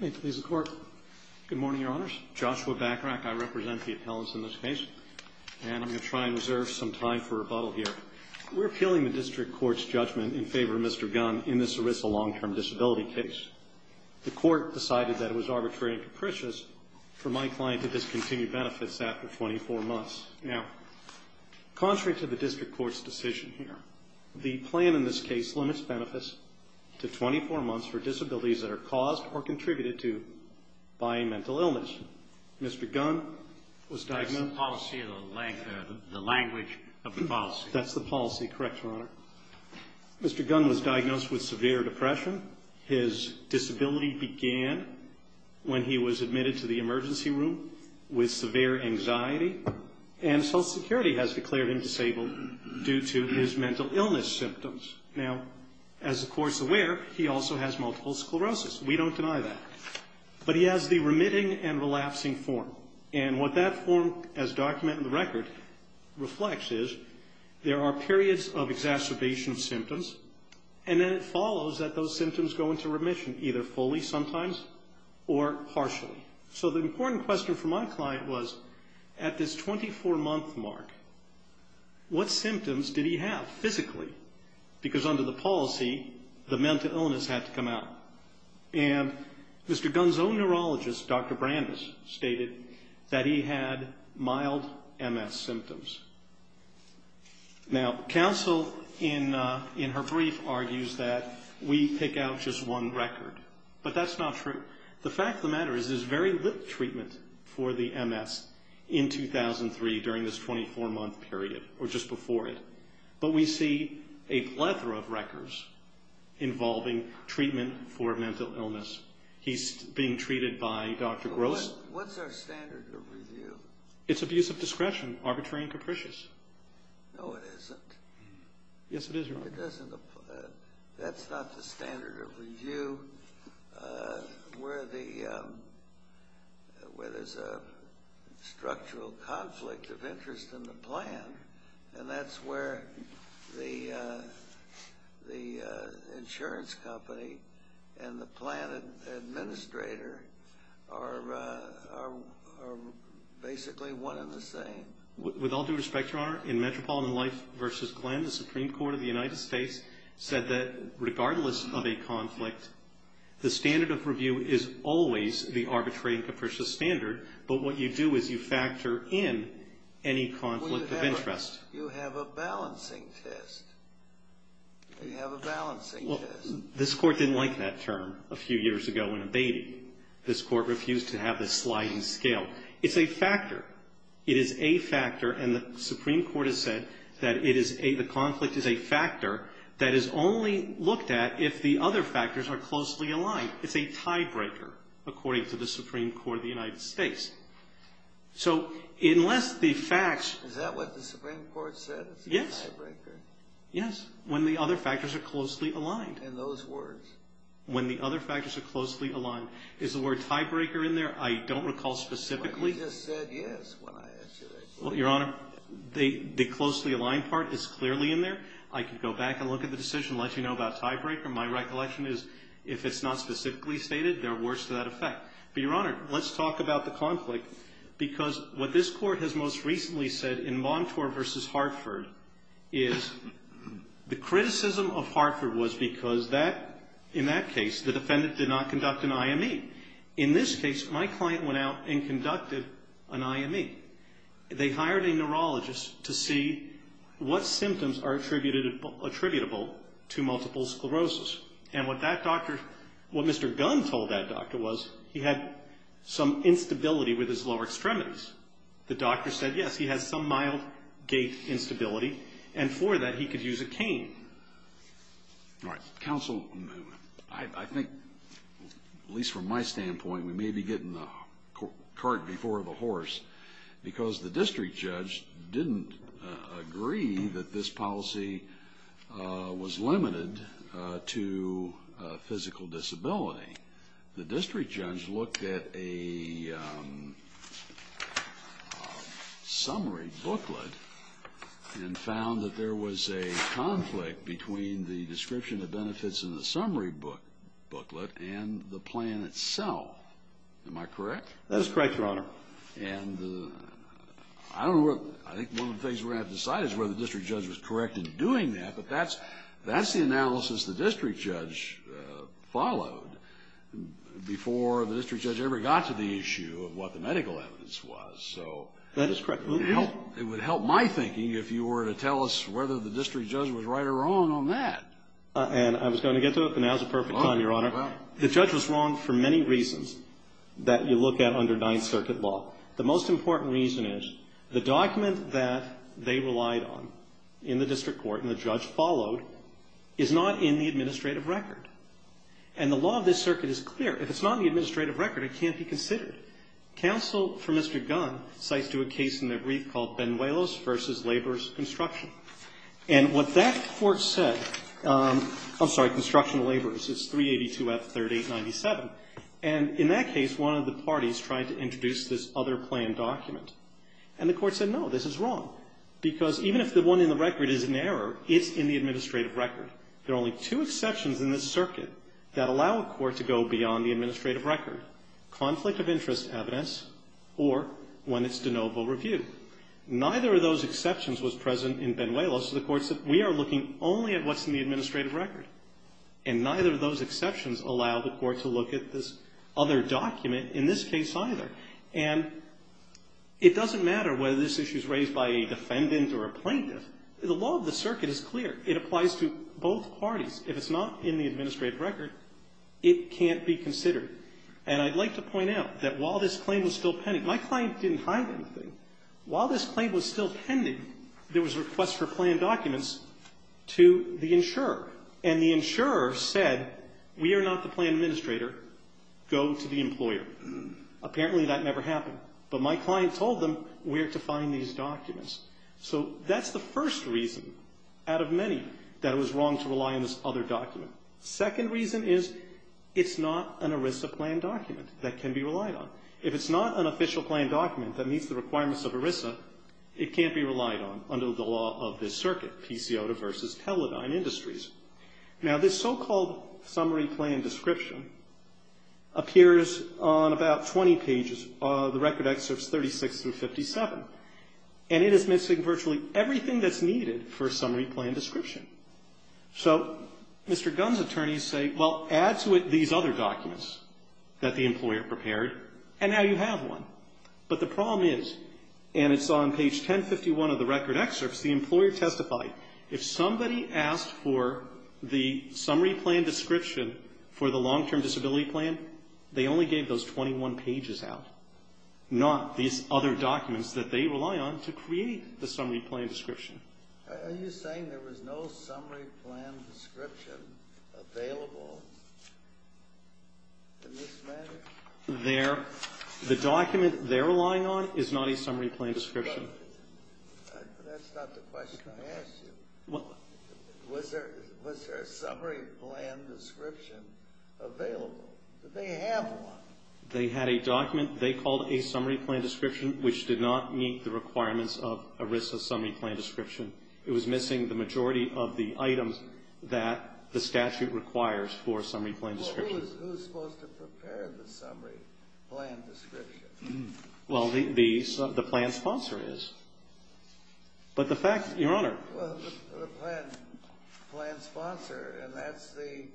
Good morning, Your Honors. Joshua Bachrach. I represent the appellants in this case, and I'm going to try and reserve some time for rebuttal here. We're appealing the District Court's judgment in favor of Mr. Gunn in this ERISA long-term disability case. The Court decided that it was arbitrary and capricious for my client to discontinue benefits after 24 months. Now, contrary to the District Court's decision here, the plan in this case limits benefits to 24 months for disabilities that are caused or contributed to by a mental illness. Mr. Gunn was diagnosed... That's the policy of the language of the policy. That's the policy. Correct, Your Honor. Mr. Gunn was diagnosed with severe depression. His disability began when he was admitted to the emergency room with severe anxiety. And Social Security has declared him disabled due to his mental illness symptoms. Now, as the Court's aware, he also has multiple sclerosis. We don't deny that. But he has the remitting and relapsing form. And what that form, as documented in the record, reflects is there are periods of exacerbation symptoms, and then it follows that those symptoms go into remission, either fully sometimes or partially. So the important question for my client was, at this 24-month mark, what symptoms did he have physically? Because under the policy, the mental illness had to come out. And Mr. Gunn's own neurologist, Dr. Brandes, stated that he had mild MS symptoms. Now, counsel, in her brief, argues that we pick out just one record. But that's not true. The fact of the matter is there's very little treatment for the MS in 2003 during this 24-month period, or just before it. But we see a plethora of records involving treatment for mental illness. He's being treated by Dr. Gross. What's our standard of review? It's abuse of discretion, arbitrary and capricious. No, it isn't. Yes, it is, Your Honor. That's not the standard of review where there's a structural conflict of interest in the plan. And that's where the insurance company and the plan administrator are basically one and the same. With all due respect, Your Honor, in Metropolitan Life v. Glenn, the Supreme Court of the United States said that, regardless of a conflict, the standard of review is always the arbitrary and capricious standard. But what you do is you factor in any conflict of interest. Well, you have a balancing test. You have a balancing test. Well, this Court didn't like that term a few years ago when it abated. This Court refused to have the sliding scale. It's a factor. It is a factor, and the Supreme Court has said that it is a – the conflict is a factor that is only looked at if the other factors are closely aligned. It's a tiebreaker, according to the Supreme Court of the United States. So unless the facts – Is that what the Supreme Court said? Yes. It's a tiebreaker. Yes, when the other factors are closely aligned. In those words. When the other factors are closely aligned. Is the word tiebreaker in there? I don't recall specifically. But you just said yes when I asked you that question. Well, Your Honor, the closely aligned part is clearly in there. I could go back and look at the decision and let you know about tiebreaker. My recollection is if it's not specifically stated, they're worse to that effect. But, Your Honor, let's talk about the conflict because what this Court has most recently said in Montour v. Hartford is the criticism of Hartford was because that – in that case, the defendant did not conduct an IME. In this case, my client went out and conducted an IME. They hired a neurologist to see what symptoms are attributable to multiple sclerosis. And what that doctor – what Mr. Gunn told that doctor was he had some instability with his lower extremities. The doctor said, yes, he has some mild gait instability, and for that, he could use a cane. All right. Counsel, I think, at least from my standpoint, we may be getting the cart before the horse because the district judge didn't agree that this policy was limited to physical disability. The district judge looked at a summary booklet and found that there was a conflict between the description of benefits in the summary booklet and the plan itself. Am I correct? And I don't know – I think one of the things we're going to have to decide is whether the district judge was correct in doing that. But that's the analysis the district judge followed before the district judge ever got to the issue of what the medical evidence was. That is correct. It would help my thinking if you were to tell us whether the district judge was right or wrong on that. And I was going to get to it, but now is the perfect time, Your Honor. The judge was wrong for many reasons that you look at under Ninth Circuit law. The most important reason is the document that they relied on in the district court and the judge followed is not in the administrative record. And the law of this circuit is clear. If it's not in the administrative record, it can't be considered. Counsel for Mr. Gunn cites to a case in their brief called Benuelos v. Laborers Construction. And what that court said – I'm sorry, Construction of Laborers. It's 382F3897. And in that case, one of the parties tried to introduce this other plan document. And the court said, no, this is wrong, because even if the one in the record is in error, it's in the administrative record. There are only two exceptions in this circuit that allow a court to go beyond the administrative record, conflict of interest evidence or when it's de novo review. Neither of those exceptions was present in Benuelos. The court said, we are looking only at what's in the administrative record. And neither of those exceptions allow the court to look at this other document in this case either. And it doesn't matter whether this issue is raised by a defendant or a plaintiff. The law of the circuit is clear. It applies to both parties. If it's not in the administrative record, it can't be considered. And I'd like to point out that while this claim was still pending, my client didn't hide anything. While this claim was still pending, there was a request for plan documents to the insurer. And the insurer said, we are not the plan administrator. Go to the employer. Apparently that never happened. But my client told them where to find these documents. So that's the first reason out of many that it was wrong to rely on this other document. Second reason is it's not an ERISA plan document that can be relied on. If it's not an official plan document that meets the requirements of ERISA, it can't be relied on under the law of this circuit, PCOTA versus Teledyne Industries. Now, this so-called summary plan description appears on about 20 pages. The record excerpts 36 through 57. And it is missing virtually everything that's needed for a summary plan description. So Mr. Gunn's attorneys say, well, add to it these other documents that the employer prepared. And now you have one. But the problem is, and it's on page 1051 of the record excerpts, the employer testified, if somebody asked for the summary plan description for the long-term disability plan, they only gave those 21 pages out, not these other documents that they rely on to create the summary plan description. Are you saying there was no summary plan description available in this matter? The document they're relying on is not a summary plan description. That's not the question I asked you. Was there a summary plan description available? Did they have one? They had a document they called a summary plan description, which did not meet the requirements of ERISA summary plan description. It was missing the majority of the items that the statute requires for a summary plan description. Well, who is supposed to prepare the summary plan description? Well, the plan sponsor is. But the fact, Your Honor. Well, the plan sponsor, and that's the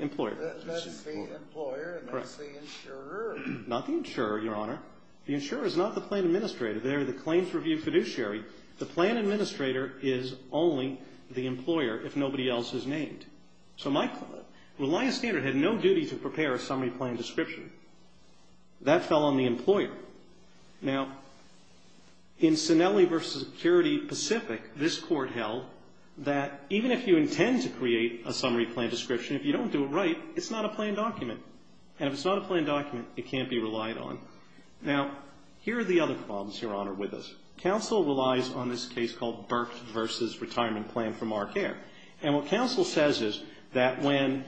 employer, and that's the insurer. Not the insurer, Your Honor. The insurer is not the plan administrator. They're the claims review fiduciary. The plan administrator is only the employer if nobody else is named. So my client, Reliance Standard, had no duty to prepare a summary plan description. That fell on the employer. Now, in Sinelli v. Security Pacific, this court held that even if you intend to create a summary plan description, if you don't do it right, it's not a planned document. And if it's not a planned document, it can't be relied on. Now, here are the other problems, Your Honor, with this. Counsel relies on this case called Burke v. Retirement Plan for Mark Ayer. And what counsel says is that when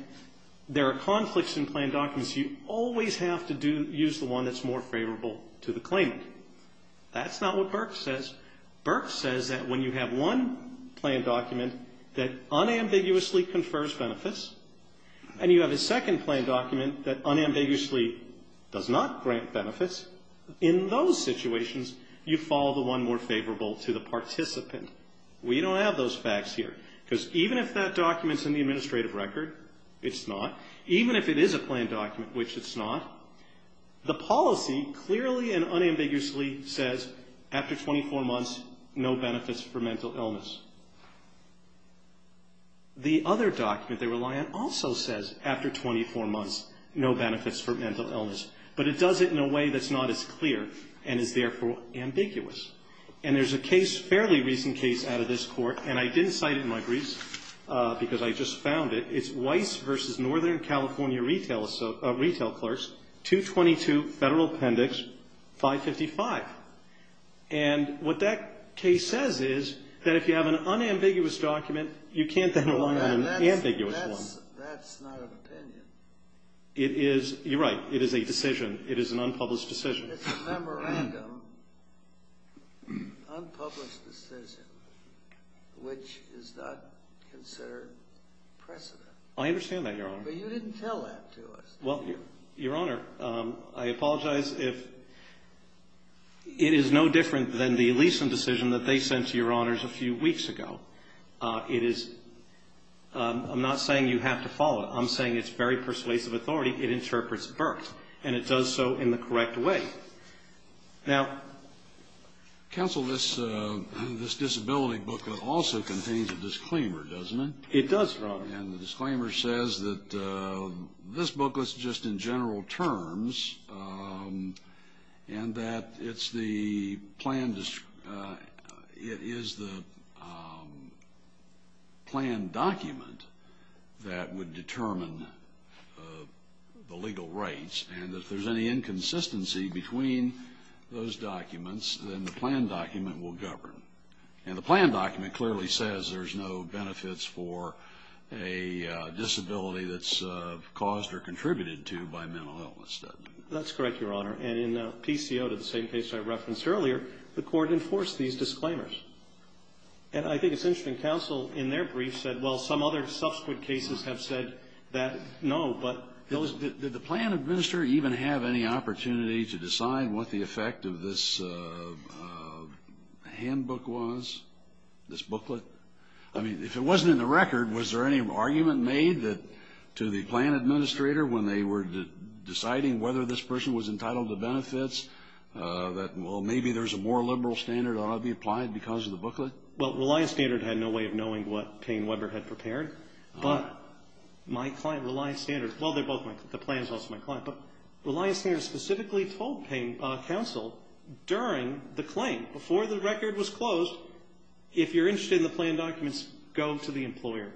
there are conflicts in planned documents, you always have to use the one that's more favorable to the claimant. That's not what Burke says. Burke says that when you have one planned document that unambiguously confers benefits and you have a second planned document that unambiguously does not grant benefits, in those situations, you follow the one more favorable to the participant. We don't have those facts here. Because even if that document's in the administrative record, it's not. Even if it is a planned document, which it's not, the policy clearly and unambiguously says, after 24 months, no benefits for mental illness. The other document they rely on also says, after 24 months, no benefits for mental illness. But it does it in a way that's not as clear and is, therefore, ambiguous. And there's a case, fairly recent case, out of this court, and I didn't cite it in my briefs because I just found it, it's Weiss v. Northern California Retail Clerks, 222 Federal Appendix 555. And what that case says is that if you have an unambiguous document, you can't then rely on an ambiguous one. That's not an opinion. You're right. It is a decision. It is an unpublished decision. It's a memorandum, unpublished decision, which is not considered precedent. I understand that, Your Honor. But you didn't tell that to us, did you? Well, Your Honor, I apologize if it is no different than the Leeson decision that they sent to Your Honors a few weeks ago. It is, I'm not saying you have to follow it. I'm saying it's very persuasive authority. And it does so in the correct way. Counsel, this disability booklet also contains a disclaimer, doesn't it? It does, Your Honor. And the disclaimer says that this booklet's just in general terms and that it's the plan document that would determine the legal rights. And if there's any inconsistency between those documents, then the plan document will govern. And the plan document clearly says there's no benefits for a disability that's caused or contributed to by mental illness, doesn't it? That's correct, Your Honor. And in PCO, the same case I referenced earlier, the court enforced these disclaimers. And I think it's interesting, counsel, in their brief said, well, some other subsequent cases have said that, no, but those Counsel, did the plan administrator even have any opportunity to decide what the effect of this handbook was, this booklet? I mean, if it wasn't in the record, was there any argument made to the plan administrator when they were deciding whether this person was entitled to benefits, that, well, maybe there's a more liberal standard that ought to be applied because of the booklet? Well, Reliance Standard had no way of knowing what Payne Weber had prepared. But my client, Reliance Standard, well, they're both my clients. The plan is also my client. But Reliance Standard specifically told counsel during the claim, before the record was closed, if you're interested in the plan documents, go to the employer.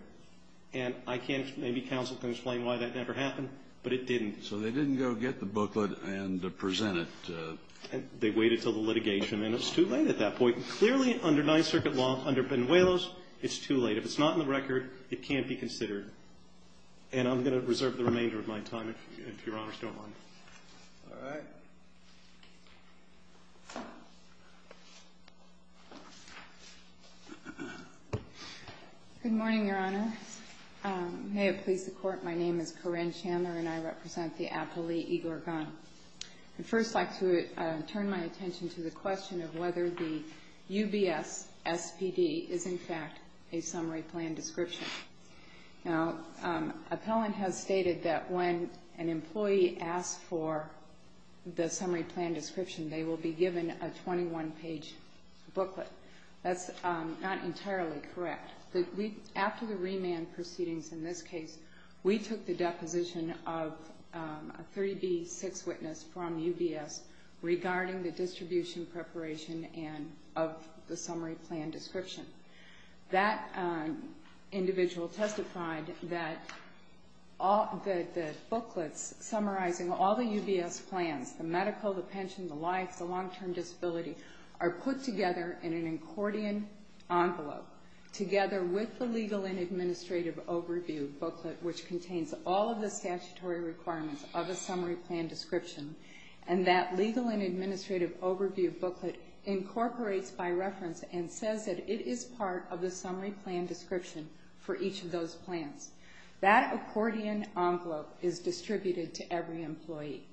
And I can't, maybe counsel can explain why that never happened, but it didn't. So they didn't go get the booklet and present it? They waited until the litigation, and it was too late at that point. Clearly, under Ninth Circuit law, under Benuelos, it's too late. If it's not in the record, it can't be considered. And I'm going to reserve the remainder of my time, if Your Honors don't mind. All right. Good morning, Your Honor. May it please the Court. My name is Corrine Chandler, and I represent the appellee, Igor Gunn. I'd first like to turn my attention to the question of whether the UBS SPD is, in fact, a summary plan description. Now, appellant has stated that when an employee asks for the summary plan description, they will be given a 21-page booklet. That's not entirely correct. After the remand proceedings in this case, we took the deposition of a 3B6 witness from UBS regarding the distribution preparation of the summary plan description. That individual testified that the booklets summarizing all the UBS plans, the medical, the pension, the life, the long-term disability, are put together in an accordion envelope together with the legal and administrative overview booklet, which contains all of the statutory requirements of a summary plan description. And that legal and administrative overview booklet incorporates by reference and says that it is part of the summary plan description for each of those plans. That accordion envelope is distributed to every employee.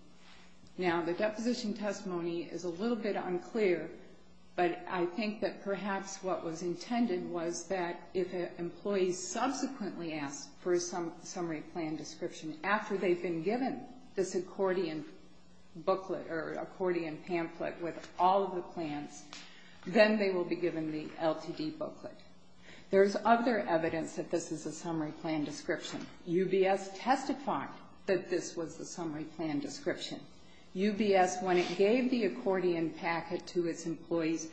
Now, the deposition testimony is a little bit unclear, but I think that perhaps what was intended was that if an employee subsequently asks for a summary plan description after they've been given this accordion booklet or accordion pamphlet with all of the plans, then they will be given the LTD booklet. There's other evidence that this is a summary plan description. UBS testified that this was the summary plan description. UBS, when it gave the accordion packet to its employees,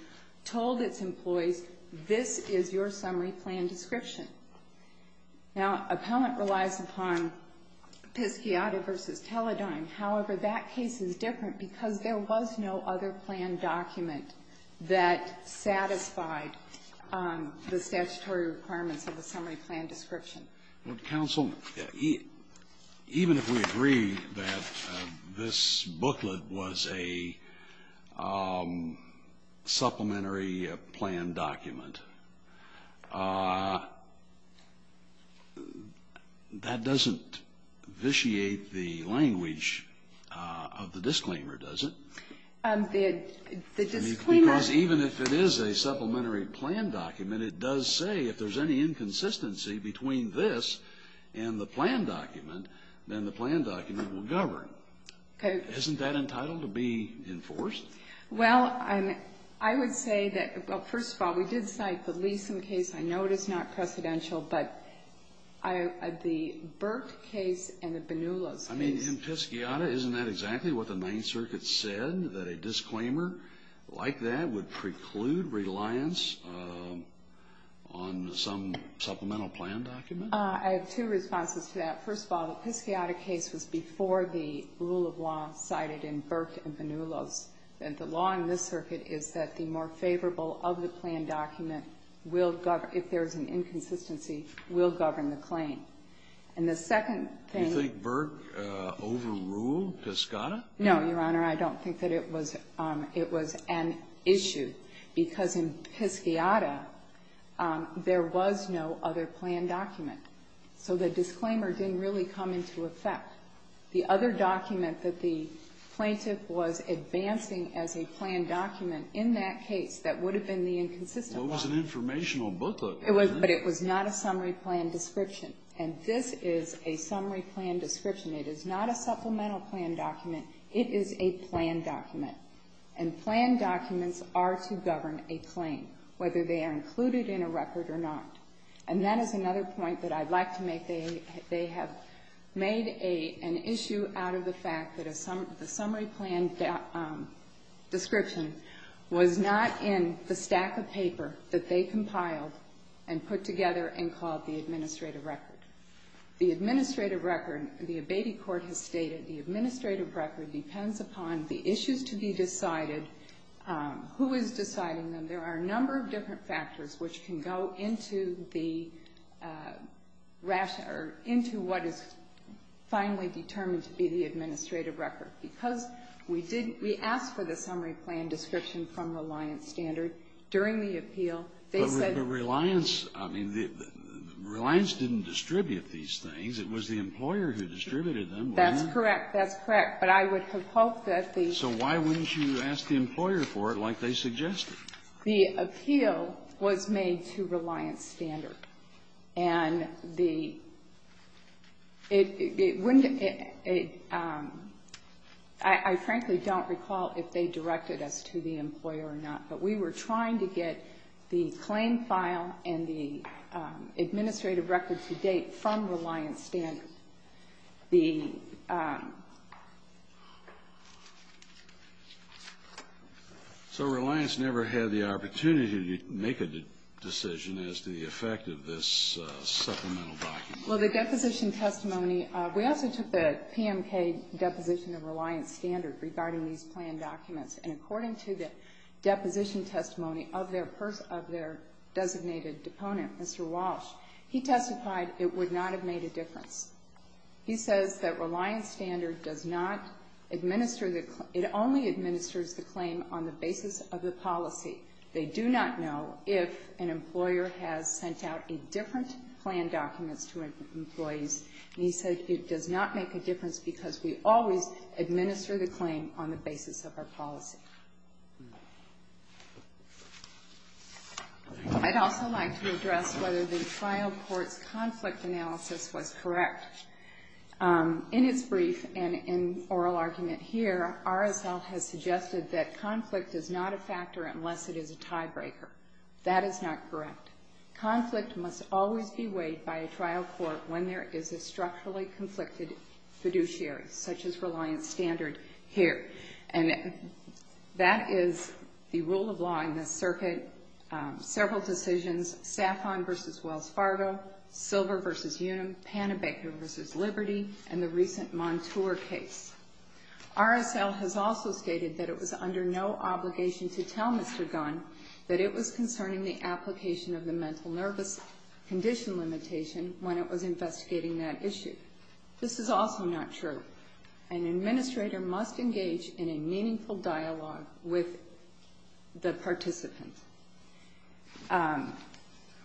told its employees, this is your summary plan description. Now, appellant relies upon Pisciata v. Teledyne. However, that case is different because there was no other plan document that satisfied the statutory requirements of the summary plan description. Well, counsel, even if we agree that this booklet was a supplementary plan document, that doesn't vitiate the language of the disclaimer, does it? The disclaimer — Because even if it is a supplementary plan document, it does say if there's any inconsistency between this and the plan document, then the plan document will govern. Okay. Isn't that entitled to be enforced? Well, I would say that, well, first of all, we did cite the Leeson case. I know it is not precedential, but the Burke case and the Banulos case. I mean, in Pisciata, isn't that exactly what the Ninth Circuit said, that a disclaimer like that would preclude reliance on some supplemental plan document? I have two responses to that. First of all, the Pisciata case was before the rule of law cited in Burke and Banulos. And the law in this circuit is that the more favorable of the plan document will govern. If there's an inconsistency, will govern the claim. And the second thing — Do you think Burke overruled Pisciata? No, Your Honor. I don't think that it was an issue, because in Pisciata, there was no other plan document. So the disclaimer didn't really come into effect. The other document that the plaintiff was advancing as a plan document in that case, that would have been the inconsistent one. It was an informational booklet. It was, but it was not a summary plan description. And this is a summary plan description. It is not a supplemental plan document. It is a plan document. And plan documents are to govern a claim, whether they are included in a record or not. And that is another point that I'd like to make. They have made an issue out of the fact that the summary plan description was not in the stack of paper that they compiled and put together and called the administrative record. The administrative record, the abating court has stated, the administrative record depends upon the issues to be decided, who is deciding them. There are a number of different factors which can go into the ration or into what is finally determined to be the administrative record. Because we did — we asked for the summary plan description from Reliance Standard during the appeal. They said — It was the employer who distributed them, wasn't it? That's correct. That's correct. But I would have hoped that the — So why wouldn't you ask the employer for it like they suggested? The appeal was made to Reliance Standard. And the — it wouldn't — I frankly don't recall if they directed us to the employer or not. But we were trying to get the claim file and the administrative record to date from Reliance Standard. The — So Reliance never had the opportunity to make a decision as to the effect of this supplemental document. Well, the deposition testimony — we also took the PMK deposition of Reliance Standard regarding these plan documents. And according to the deposition testimony of their designated deponent, Mr. Walsh, he testified it would not have made a difference. He says that Reliance Standard does not administer the — it only administers the claim on the basis of the policy. They do not know if an employer has sent out a different plan document to employees. And he said it does not make a difference because we always administer the claim on the basis of our policy. I'd also like to address whether the trial court's conflict analysis was correct. In its brief and in oral argument here, RSL has suggested that conflict is not a factor unless it is a tiebreaker. That is not correct. Conflict must always be weighed by a trial court when there is a structurally conflicted fiduciary, such as Reliance Standard here. And that is the rule of law in this circuit, several decisions, Saffron v. Wells Fargo, Silver v. Unum, Panabaker v. Liberty, and the recent Montour case. RSL has also stated that it was under no obligation to tell Mr. Gunn that it was concerning the application of the mental nervous condition limitation when it was investigating that issue. This is also not true. An administrator must engage in a meaningful dialogue with the participant.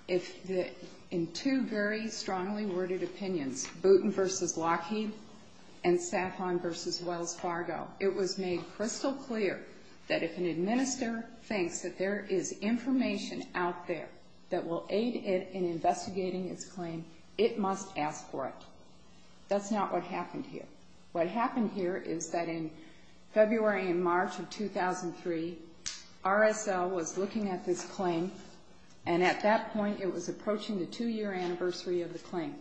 In two very strongly worded opinions, Boutin v. Lockheed and Saffron v. Wells Fargo, it was made crystal clear that if an administrator thinks that there is information out there that will aid it in investigating its claim, it must ask for it. That's not what happened here. What happened here is that in February and March of 2003, RSL was looking at this claim, and at that point it was approaching the two-year anniversary of the claim.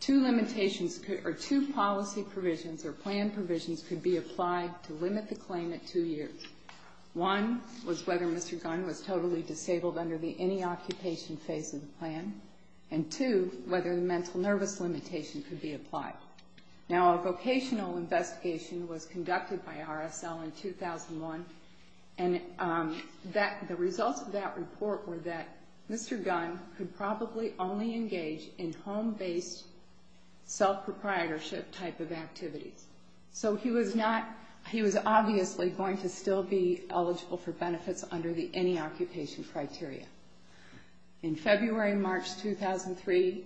Two limitations or two policy provisions or plan provisions could be applied to limit the claim at two years. One was whether Mr. Gunn was totally disabled under the any occupation phase of the plan, and two, whether the mental nervous limitation could be applied. Now, a vocational investigation was conducted by RSL in 2001, and the results of that report were that Mr. Gunn could probably only engage in home-based, self-proprietorship type of activities. So he was obviously going to still be eligible for benefits under the any occupation criteria. In February and March 2003,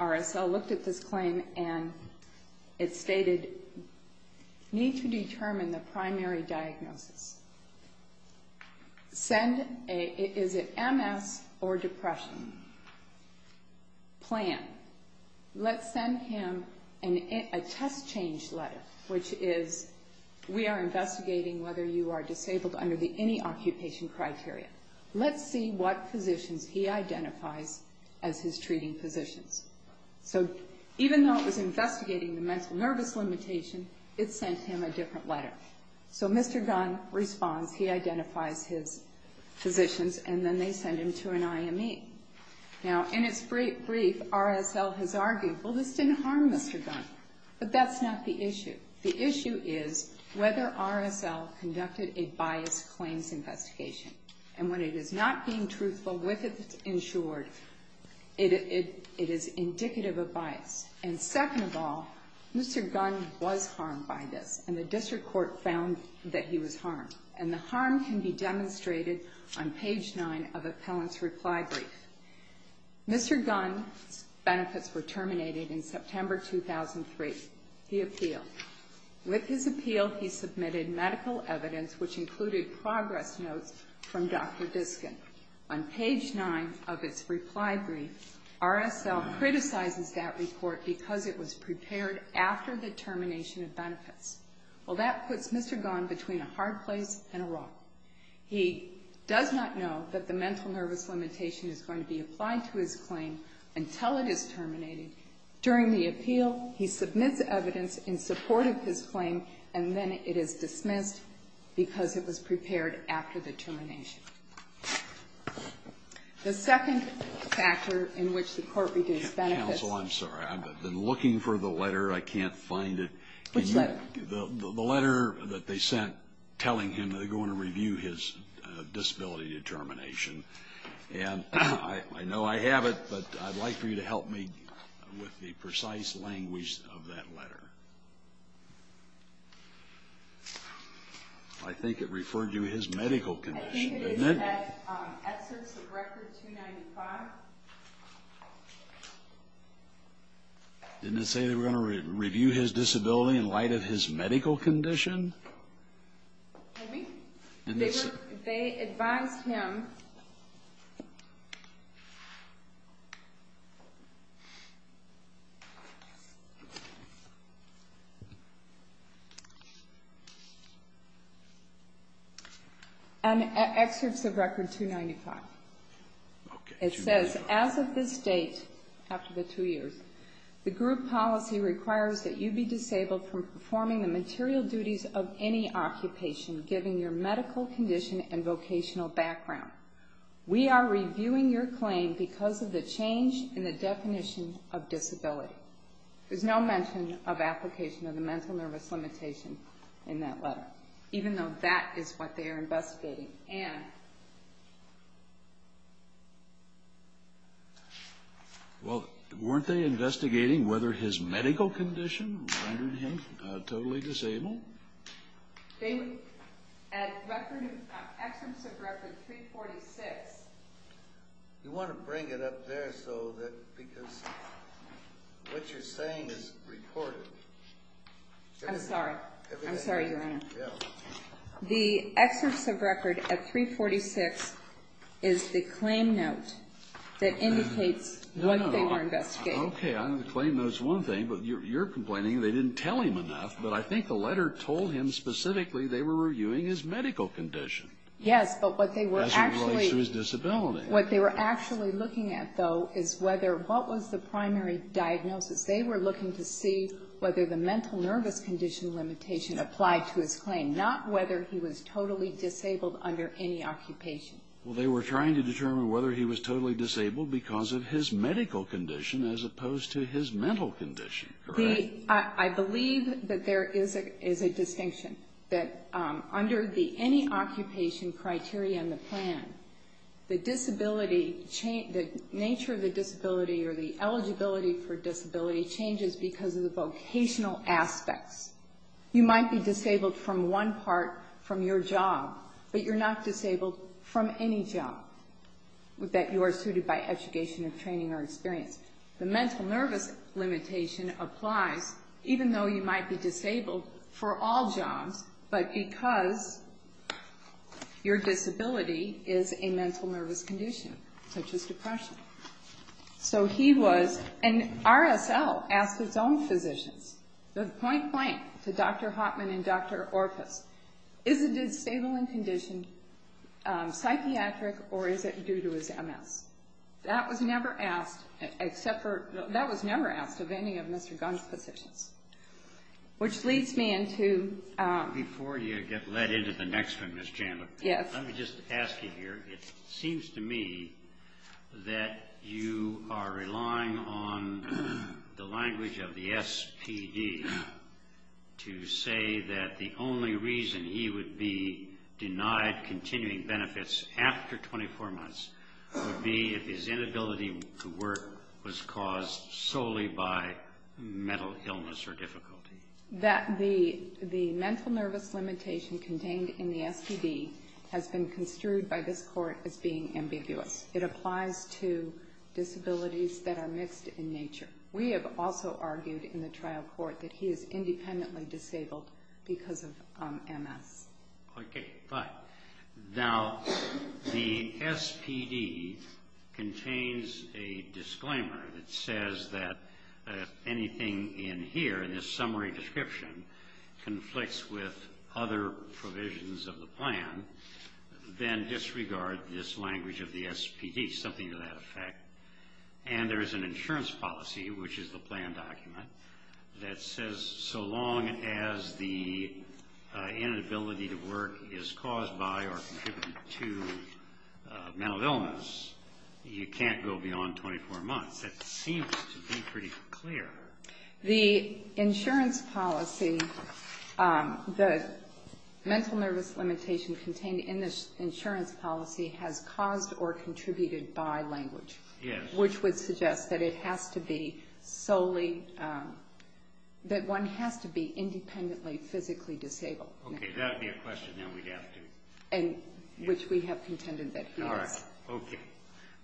RSL looked at this claim, and it stated, need to determine the primary diagnosis. Is it MS or depression? Plan. Let's send him a test change letter, which is, we are investigating whether you are disabled under the any occupation criteria. Let's see what positions he identifies as his treating positions. So even though it was investigating the mental nervous limitation, it sent him a different letter. So Mr. Gunn responds. He identifies his positions, and then they send him to an IME. Now, in its brief, RSL has argued, well, this didn't harm Mr. Gunn, but that's not the issue. The issue is whether RSL conducted a biased claims investigation, and when it is not being truthful with its insured, it is indicative of bias. And second of all, Mr. Gunn was harmed by this, and the district court found that he was harmed, and the harm can be demonstrated on page 9 of appellant's reply brief. Mr. Gunn's benefits were terminated in September 2003. He appealed. With his appeal, he submitted medical evidence, which included progress notes from Dr. Diskin. On page 9 of its reply brief, RSL criticizes that report because it was prepared after the termination of benefits. Well, that puts Mr. Gunn between a hard place and a rock. He does not know that the mental nervous limitation is going to be applied to his claim until it is terminated. During the appeal, he submits evidence in support of his claim, and then it is dismissed because it was prepared after the termination. The second factor in which the court reviews benefits. Counsel, I'm sorry. I've been looking for the letter. I can't find it. Which letter? The letter that they sent telling him they're going to review his disability determination. And I know I have it, but I'd like for you to help me with the precise language of that letter. I think it referred to his medical condition, didn't it? I think it is at essence of record 295. Didn't it say they were going to review his disability in light of his medical condition? Maybe. They advised him. And excerpts of record 295. It says, as of this date, after the two years, the group policy requires that you be disabled from performing the material duties of any occupation given your medical condition and vocational background. We are reviewing your claim because of the change in the definition of disability. There's no mention of application of the mental nervous limitation in that letter, even though that is what they are investigating. And? Well, weren't they investigating whether his medical condition rendered him totally disabled? They, at record, excerpts of record 346. You want to bring it up there so that, because what you're saying is recorded. I'm sorry. I'm sorry, Your Honor. Yeah. The excerpts of record at 346 is the claim note that indicates what they were investigating. Okay, I know the claim note is one thing, but you're complaining they didn't tell him enough. But I think the letter told him specifically they were reviewing his medical condition. Yes, but what they were actually... As it relates to his disability. What they were actually looking at, though, is whether, what was the primary diagnosis? They were looking to see whether the mental nervous condition limitation applied to his claim, not whether he was totally disabled under any occupation. Well, they were trying to determine whether he was totally disabled because of his medical condition as opposed to his mental condition, correct? I believe that there is a distinction, that under the any occupation criteria in the plan, the disability, the nature of the disability or the eligibility for disability changes because of the vocational aspects. You might be disabled from one part from your job, but you're not disabled from any job that you are suited by education or training or experience. The mental nervous limitation applies even though you might be disabled for all jobs, but because your disability is a mental nervous condition, such as depression. So he was... And RSL asked its own physicians. The point blank to Dr. Hoffman and Dr. Orpus, is the disabling condition psychiatric or is it due to his MS? That was never asked except for... That was never asked of any of Mr. Gunn's physicians, which leads me into... Before you get led into the next one, Ms. Chandler. Yes. Let me just ask you here. It seems to me that you are relying on the language of the SPD to say that the only reason he would be denied continuing benefits after 24 months would be if his inability to work was caused solely by mental illness or difficulty. That the mental nervous limitation contained in the SPD has been construed by this court as being ambiguous. It applies to disabilities that are mixed in nature. We have also argued in the trial court that he is independently disabled because of MS. Okay, fine. Now, the SPD contains a disclaimer that says that anything in here, in this summary description, conflicts with other provisions of the plan, then disregard this language of the SPD, something to that effect. And there is an insurance policy, which is the plan document, that says so long as the inability to work is caused by or contributed to mental illness, you can't go beyond 24 months. That seems to be pretty clear. The insurance policy, the mental nervous limitation contained in this insurance policy has caused or contributed by language. Yes. Which would suggest that it has to be solely, that one has to be independently physically disabled. Okay, that would be a question that we'd have to... Which we have contended that he is. Okay.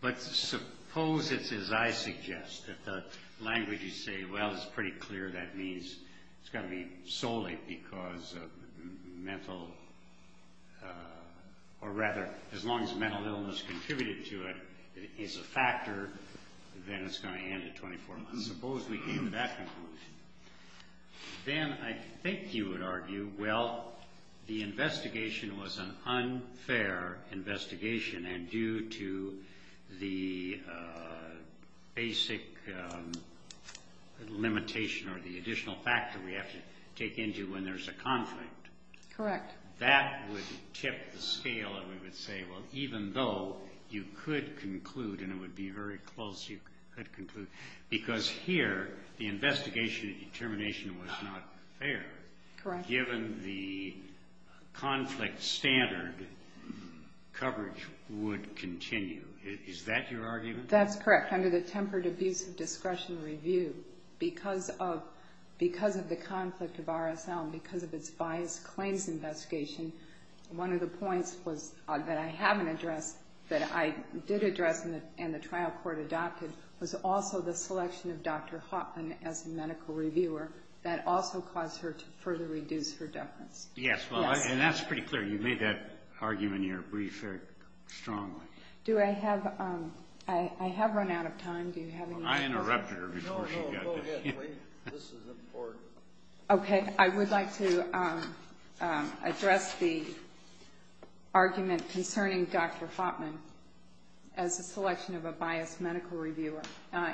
But suppose it's as I suggest, that the language you say, well, it's pretty clear that means it's got to be solely because of mental, or rather, as long as mental illness contributed to it, it's a factor, then it's going to end at 24 months. Suppose we came to that conclusion. Then I think you would argue, well, the investigation was an unfair investigation and due to the basic limitation or the additional factor we have to take into when there's a conflict. Correct. That would tip the scale and we would say, well, even though you could conclude and it would be very close you could conclude, because here the investigation and determination was not fair. Correct. Given the conflict standard, coverage would continue. Is that your argument? That's correct. Under the Tempered Abuse of Discretion Review, because of the conflict of RSL and because of its biased claims investigation, one of the points that I haven't addressed, that I did address and the trial court adopted, was also the selection of Dr. Hoffman as the medical reviewer. That also caused her to further reduce her deference. Yes. And that's pretty clear. You made that argument in your brief very strongly. I have run out of time. Do you have any questions? I interrupted her before she got there. Okay. I would like to address the argument concerning Dr. Hoffman as a selection of a biased medical reviewer.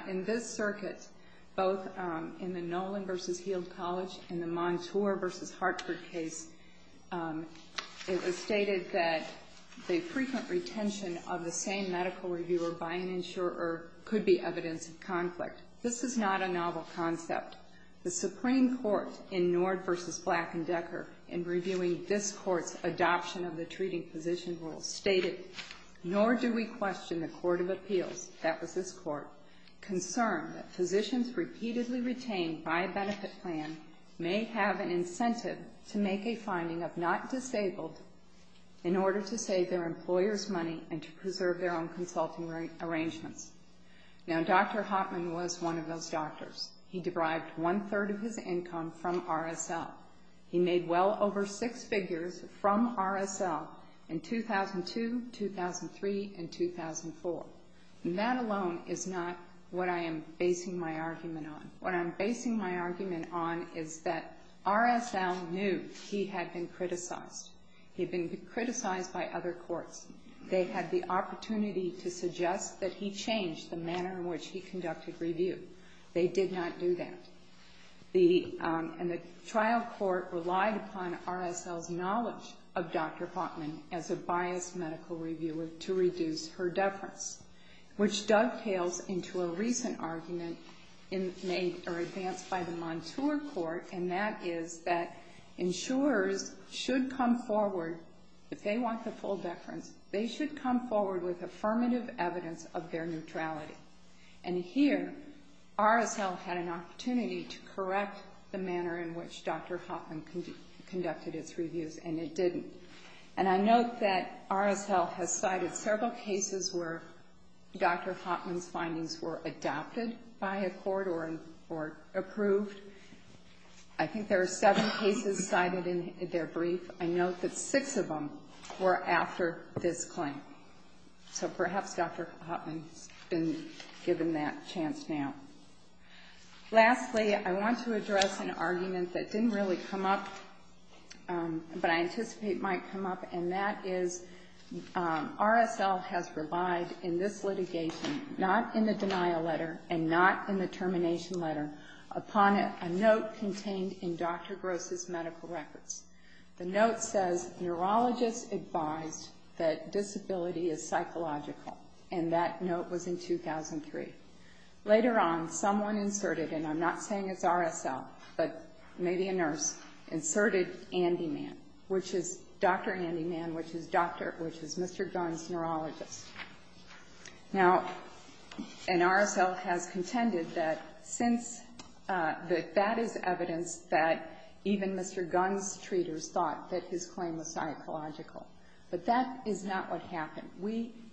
In this circuit, both in the Nolan v. Heald College and the Montour v. Hartford case, it was stated that the frequent retention of the same medical reviewer by an insurer could be evidence of conflict. This is not a novel concept. The Supreme Court, in Nord v. Black & Decker, in reviewing this Court's adoption of the treating physician rule, stated, Nor do we question the Court of Appeals, that was this Court, concerned that physicians repeatedly retained by a benefit plan may have an incentive to make a finding of not disabled in order to save their employers money and to preserve their own consulting arrangements. Now, Dr. Hoffman was one of those doctors. He derived one-third of his income from RSL. He made well over six figures from RSL in 2002, 2003, and 2004. And that alone is not what I am basing my argument on. What I'm basing my argument on is that RSL knew he had been criticized. He had been criticized by other courts. They had the opportunity to suggest that he change the manner in which he conducted review. They did not do that. And the trial court relied upon RSL's knowledge of Dr. Hoffman as a biased medical reviewer to reduce her deference, which dovetails into a recent argument made or advanced by the Montour Court, and that is that insurers should come forward, if they want the full deference, they should come forward with affirmative evidence of their neutrality. And here RSL had an opportunity to correct the manner in which Dr. Hoffman conducted its reviews, and it didn't. And I note that RSL has cited several cases where Dr. Hoffman's findings were adopted by a court or approved. I think there were seven cases cited in their brief. I note that six of them were after this claim. So perhaps Dr. Hoffman has been given that chance now. Lastly, I want to address an argument that didn't really come up, but I anticipate might come up, and that is RSL has relied in this litigation, not in the denial letter and not in the termination letter, upon a note contained in Dr. Gross's medical records. The note says, Neurologist advised that disability is psychological, and that note was in 2003. Later on, someone inserted, and I'm not saying it's RSL, but maybe a nurse, inserted Andy Mann, which is Dr. Andy Mann, which is Mr. Gunn's neurologist. Now, and RSL has contended that since that is evidence that even Mr. Gunn's treaters thought that his claim was psychological. But that is not what happened.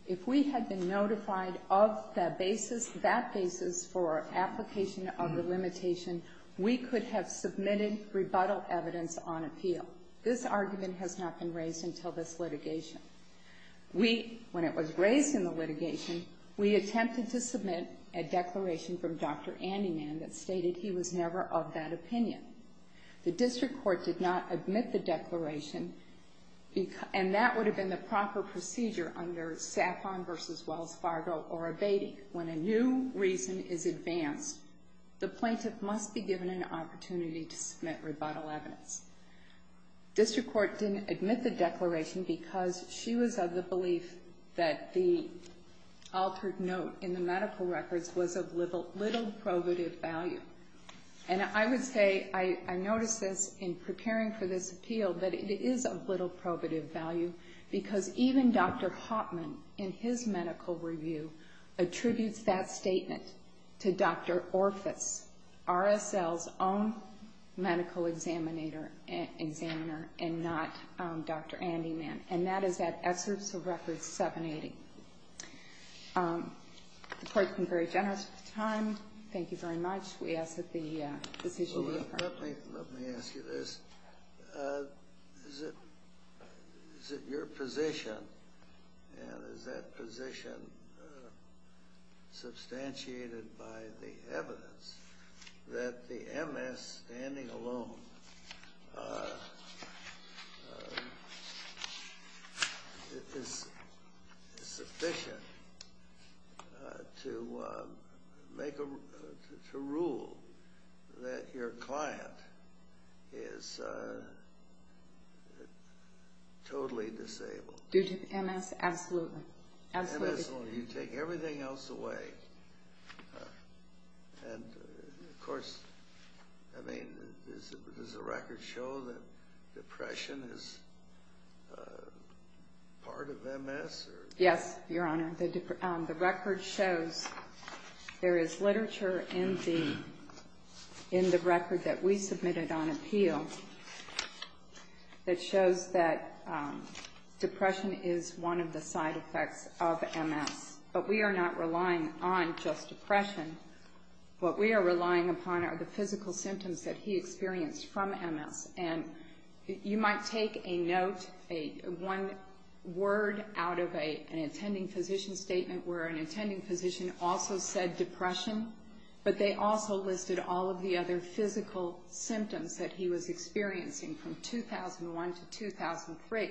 If we had been notified of that basis for application of the limitation, we could have submitted rebuttal evidence on appeal. So this argument has not been raised until this litigation. When it was raised in the litigation, we attempted to submit a declaration from Dr. Andy Mann that stated he was never of that opinion. The district court did not admit the declaration, and that would have been the proper procedure under Saffron v. Wells Fargo or Abatey. When a new reason is advanced, the plaintiff must be given an opportunity to submit rebuttal evidence. District court didn't admit the declaration because she was of the belief that the altered note in the medical records was of little probative value. And I would say I noticed this in preparing for this appeal that it is of little probative value because even Dr. Hoffman in his medical review attributes that statement to Dr. Orfis, RSL's own medical examiner and not Dr. Andy Mann. And that is at excerpts of Record 780. The court has been very generous with the time. Thank you very much. We ask that the decision be affirmed. Let me ask you this. Is it your position and is that position substantiated by the evidence that the MS standing alone is sufficient to rule that your client is totally disabled? Due to MS, absolutely. MS or you take everything else away. And of course, I mean, does the record show that depression is part of MS? Yes, Your Honor. The record shows there is literature in the record that we submitted on appeal that shows that depression is one of the side effects of MS. But we are not relying on just depression. What we are relying upon are the physical symptoms that he experienced from MS. And you might take a note, one word out of an attending physician statement where an attending physician also said depression, but they also listed all of the other physical symptoms that he was experiencing from 2001 to 2003.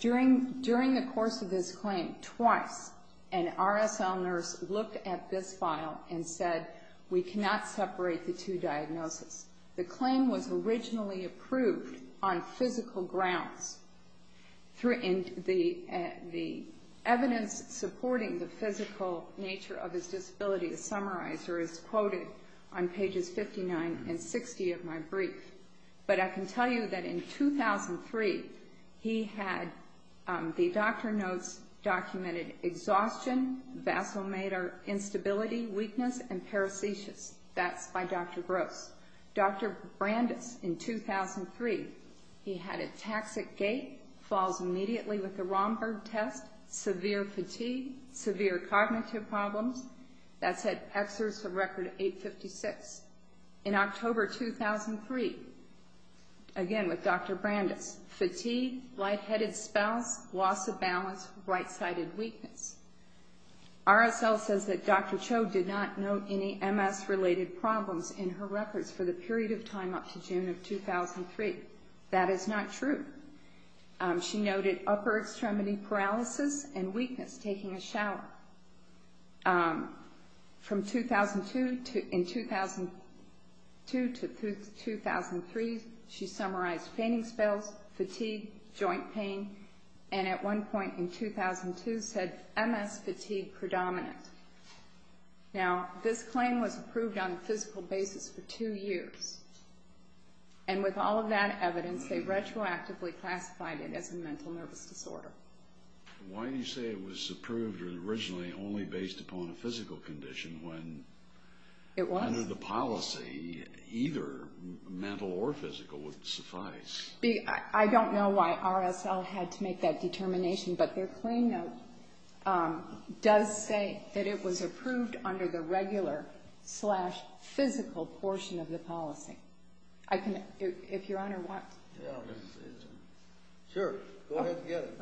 During the course of this claim, twice an RSL nurse looked at this file and said, we cannot separate the two diagnoses. The claim was originally approved on physical grounds. The evidence supporting the physical nature of his disability is summarized or is quoted on pages 59 and 60 of my brief. But I can tell you that in 2003, he had, the doctor notes documented exhaustion, vasomotor instability, weakness, and parasitiasis. That's by Dr. Gross. Dr. Brandes in 2003, he had a toxic gait, falls immediately with the Romberg test, severe fatigue, severe cognitive problems. That's at exerts of record 856. In October 2003, again with Dr. Brandes, fatigue, lightheaded spouse, loss of balance, right-sided weakness. RSL says that Dr. Cho did not note any MS-related problems in her records for the period of time up to June of 2003. That is not true. She noted upper extremity paralysis and weakness, taking a shower. From 2002 to 2003, she summarized fainting spells, fatigue, joint pain, and at one point in 2002 said MS fatigue predominant. Now, this claim was approved on a physical basis for two years. And with all of that evidence, they retroactively classified it as a mental nervous disorder. Why do you say it was approved originally only based upon a physical condition when under the policy, either mental or physical would suffice? I don't know why RSL had to make that determination, but their claim note does say that it was approved under the regular slash physical portion of the policy. I can, if Your Honor wants. Sure. Go ahead and get it.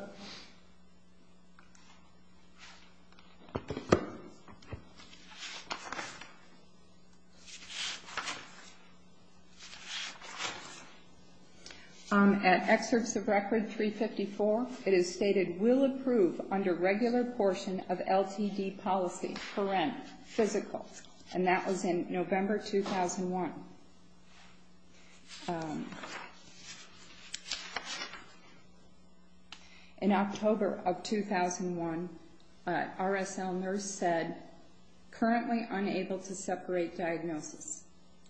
At excerpts of record 354, it is stated, will approve under regular portion of LTD policy, parent, physical. And that was in November 2001. In October of 2001, RSL nurse said, currently unable to separate diagnosis.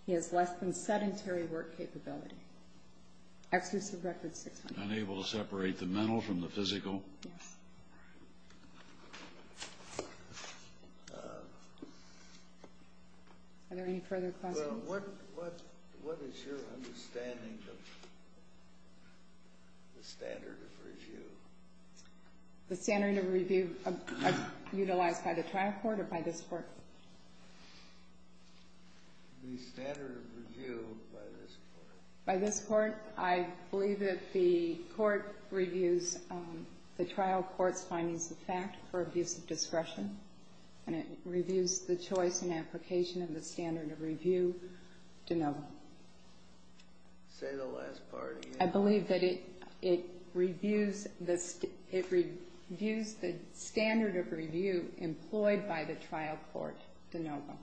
He has less than sedentary work capability. Excerpts of record 600. Unable to separate the mental from the physical? Yes. Are there any further questions? Well, what is your understanding of the standard of review? The standard of review utilized by the trial court or by this court? The standard of review by this court. By this court. I believe that the court reviews the trial court's findings of fact for abuse of discretion, and it reviews the choice and application of the standard of review de novo. Say the last part again. I believe that it reviews the standard of review employed by the trial court de novo.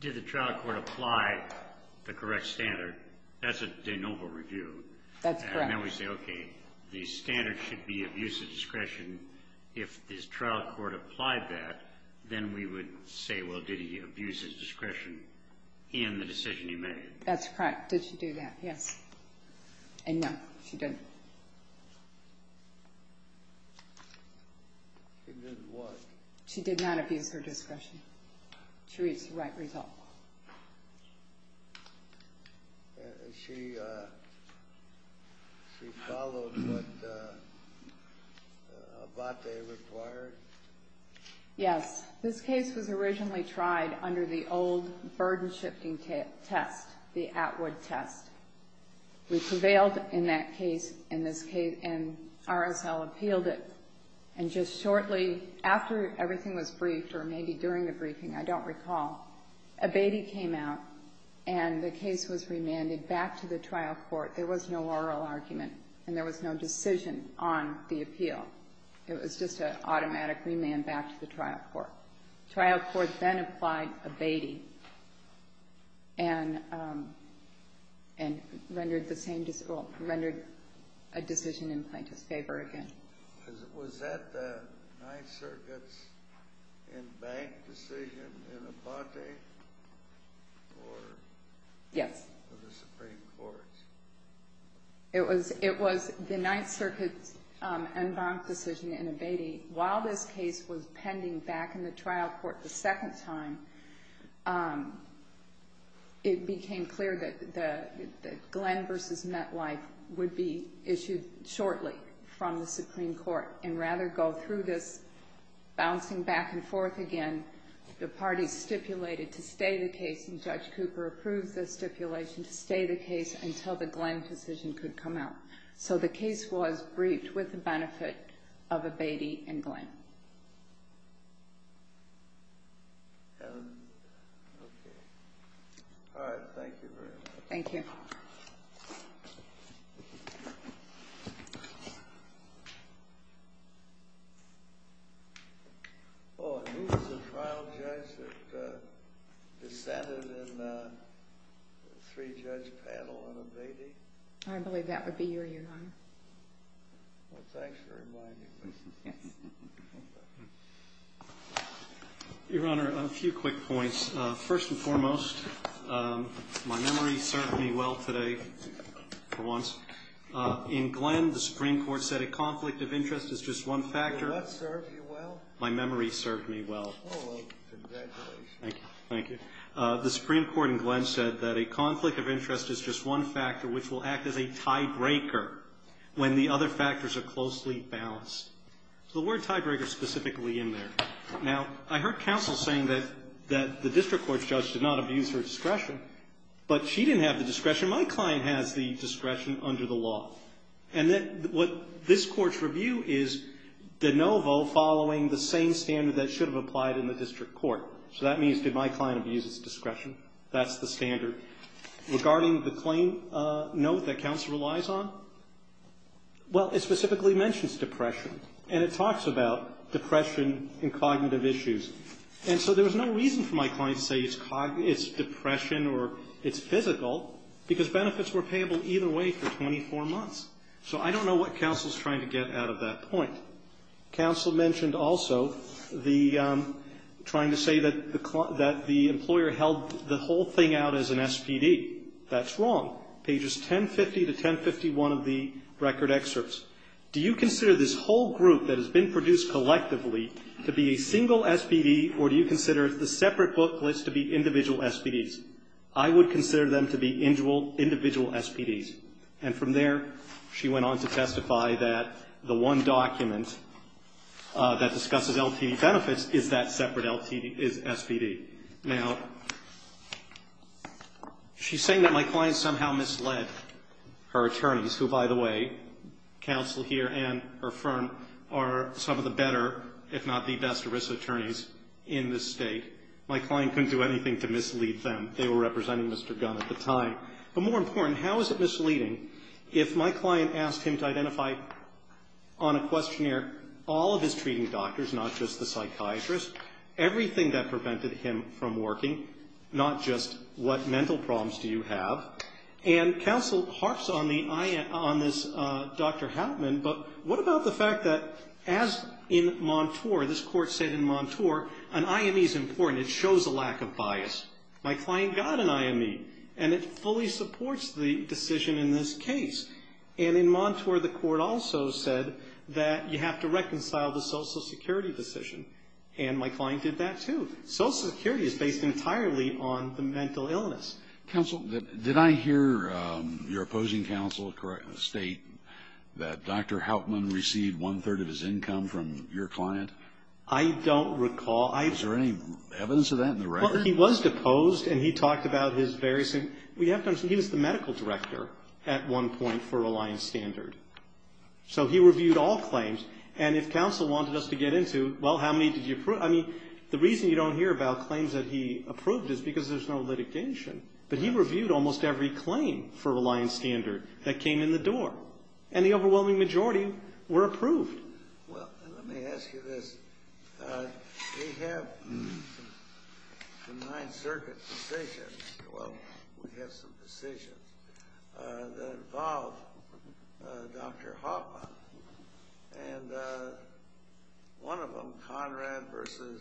Did the trial court apply the correct standard? That's a de novo review. That's correct. And then we say, okay, the standard should be abuse of discretion. If the trial court applied that, then we would say, well, did he abuse his discretion in the decision he made? That's correct. Did she do that? Yes. And no, she didn't. She did what? She abused her discretion. She reached the right result. She followed what Abbate required? Yes. This case was originally tried under the old burden-shifting test, the Atwood test. We prevailed in that case in this case, and RSL appealed it. And just shortly after everything was briefed, or maybe during the briefing, I don't recall, Abbate came out, and the case was remanded back to the trial court. There was no oral argument, and there was no decision on the appeal. It was just an automatic remand back to the trial court. The trial court then applied Abbate and rendered the same decision or rendered a decision in plaintiff's favor again. Was that the Ninth Circuit's in-bank decision in Abbate? Yes. Or the Supreme Court's? It was the Ninth Circuit's in-bank decision in Abbate. While this case was pending back in the trial court the second time, it became clear that Glenn v. Metlife would be issued shortly from the Supreme Court, and rather go through this bouncing back and forth again, the parties stipulated to stay the case, and Judge Cooper approved the stipulation to stay the case until the Glenn decision could come out. So the case was briefed with the benefit of Abbate and Glenn. And, okay. All right, thank you very much. Thank you. Oh, and who was the final judge that dissented in the three-judge panel on Abbate? I believe that would be you, Your Honor. Well, thanks for reminding me. Your Honor, a few quick points. First and foremost, my memory served me well today, for once. In Glenn, the Supreme Court said a conflict of interest is just one factor. Did that serve you well? My memory served me well. Oh, well, congratulations. Thank you. The Supreme Court in Glenn said that a conflict of interest is just one factor, which will act as a tiebreaker when the other factors are closely balanced. So the word tiebreaker is specifically in there. Now, I heard counsel saying that the district court judge did not abuse her discretion, but she didn't have the discretion. My client has the discretion under the law. And what this court's review is de novo following the same standard that should have applied in the district court. So that means did my client abuse his discretion? That's the standard. Regarding the claim note that counsel relies on, well, it specifically mentions depression. And it talks about depression and cognitive issues. And so there was no reason for my client to say it's depression or it's physical, because benefits were payable either way for 24 months. So I don't know what counsel is trying to get out of that point. Counsel mentioned also the trying to say that the employer held the whole thing out as an SPD. That's wrong. Pages 1050 to 1051 of the record excerpts. Do you consider this whole group that has been produced collectively to be a single SPD, or do you consider the separate book list to be individual SPDs? I would consider them to be individual SPDs. And from there, she went on to testify that the one document that discusses LTD benefits is that separate SPD. Now, she's saying that my client somehow misled her attorneys, who, by the way, counsel here and her firm are some of the better, if not the best, ERISA attorneys in this state. My client couldn't do anything to mislead them. They were representing Mr. Gunn at the time. But more important, how is it misleading if my client asked him to identify on a questionnaire all of his treating doctors, not just the psychiatrist, everything that prevented him from working, not just what mental problems do you have? And counsel harps on this, Dr. Hauptman, but what about the fact that as in Montour, this court said in Montour, an IME is important. It shows a lack of bias. My client got an IME, and it fully supports the decision in this case. And in Montour, the court also said that you have to reconcile the Social Security claim. My client did that, too. Social Security is based entirely on the mental illness. Counsel, did I hear your opposing counsel state that Dr. Hauptman received one-third of his income from your client? I don't recall. Is there any evidence of that in the record? Well, he was deposed, and he talked about his various things. He was the medical director at one point for Reliance Standard. So he reviewed all claims, and if counsel wanted us to get into, well, how many did you approve? I mean, the reason you don't hear about claims that he approved is because there's no litigation. But he reviewed almost every claim for Reliance Standard that came in the door, and the overwhelming majority were approved. Well, let me ask you this. We have the Ninth Circuit decision. Well, we have some decisions that involve Dr. Hauptman, and one of them, Conrad v.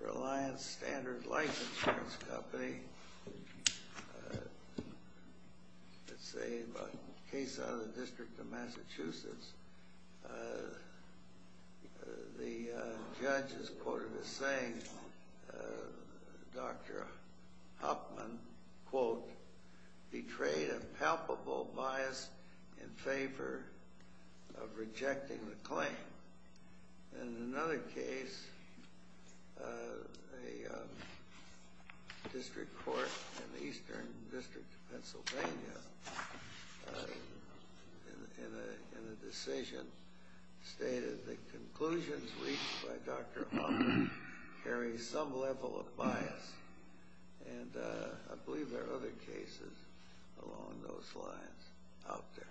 Reliance Standard Life Insurance Company, let's say a case out of the District of Massachusetts, the judge is quoted as saying Dr. Hauptman, quote, betrayed a palpable bias in favor of rejecting the claim. In another case, a district court in the Eastern District of Pennsylvania, in a decision, stated the conclusions reached by Dr. Hauptman carry some level of bias. And I believe there are other cases along those lines out there.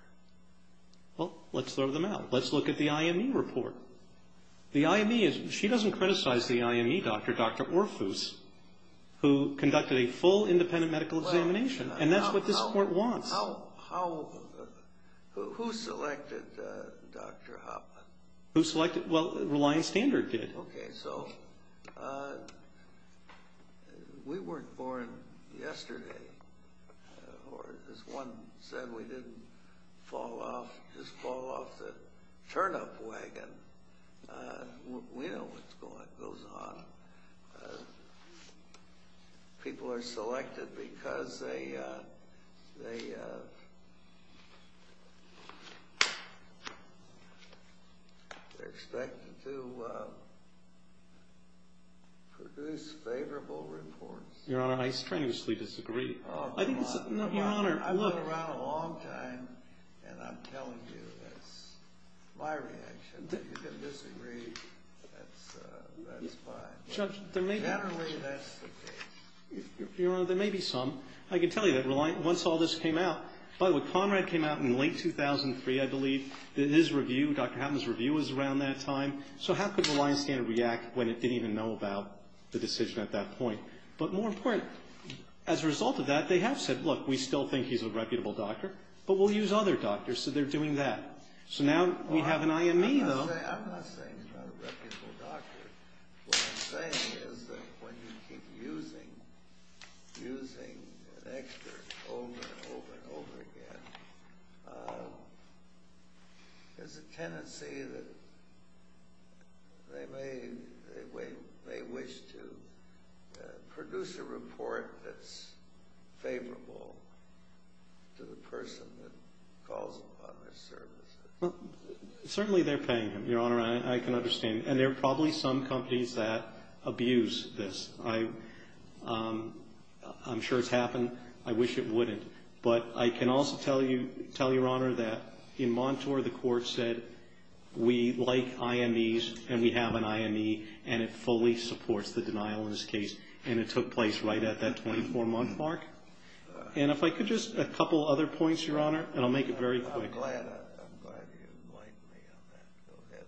Well, let's throw them out. Let's look at the IME report. She doesn't criticize the IME doctor, Dr. Orfus, who conducted a full independent medical examination, and that's what this court wants. Who selected Dr. Hauptman? Who selected? Well, Reliance Standard did. Okay, so we weren't born yesterday. Or as one said, we didn't fall off, just fall off the turnip wagon. We know what goes on. People are selected because they're expected to produce favorable reports. Your Honor, I strangely disagree. I've been around a long time, and I'm telling you that's my reaction. If you can disagree, that's fine. Generally, that's the case. Your Honor, there may be some. I can tell you that once all this came out, by the way, Conrad came out in late 2003, I believe. His review, Dr. Hauptman's review was around that time. So how could Reliance Standard react when it didn't even know about the decision at that point? But more important, as a result of that, they have said, look, we still think he's a reputable doctor, but we'll use other doctors, so they're doing that. So now we have an IME, though. I'm not saying he's not a reputable doctor. What I'm saying is that when you keep using an expert over and over and over again, there's a tendency that they may wish to produce a report that's favorable to the person that calls upon their services. Well, certainly they're paying him, Your Honor, and I can understand. And there are probably some companies that abuse this. I'm sure it's happened. I wish it wouldn't. But I can also tell you, tell Your Honor, that in Montour, the court said, we like IMEs and we have an IME, and it fully supports the denial in this case, and it took place right at that 24-month mark. And if I could just a couple other points, Your Honor, and I'll make it very quick. I'm glad you like me on that. Go ahead.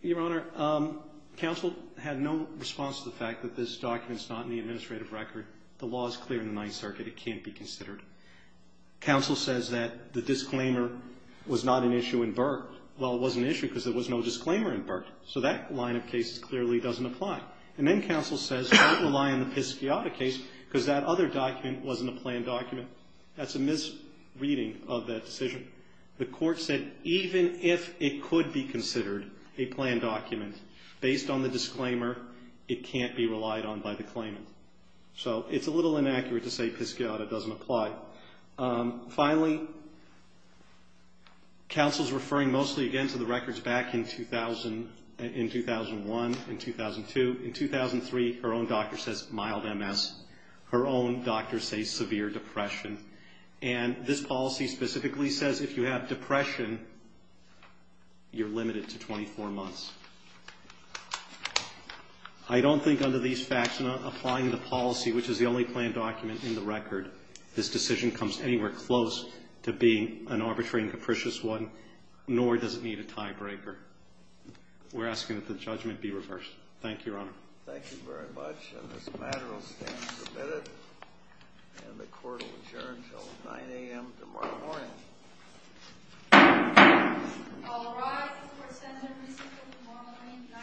Your Honor, counsel had no response to the fact that this document's not in the administrative record. The law is clear in the Ninth Circuit. It can't be considered. Counsel says that the disclaimer was not an issue in Burt. Well, it was an issue because there was no disclaimer in Burt. So that line of cases clearly doesn't apply. And then counsel says, don't rely on the Pisciotta case because that other document wasn't a planned document. That's a misreading of that decision. The court said, even if it could be considered a planned document, based on the disclaimer, it can't be relied on by the claimant. So it's a little inaccurate to say Pisciotta doesn't apply. Finally, counsel's referring mostly, again, to the records back in 2001 and 2002. In 2003, her own doctor says mild MS. Her own doctor says severe depression. And this policy specifically says if you have depression, you're limited to 24 months. I don't think under these facts, not applying the policy, which is the only planned document in the record, this decision comes anywhere close to being an arbitrary and capricious one, nor does it need a tiebreaker. We're asking that the judgment be reversed. Thank you, Your Honor. Thank you very much. And this matter will stand submitted, and the court will adjourn until 9 a.m. tomorrow morning. All rise. The court stands at recess until tomorrow morning at 9 a.m.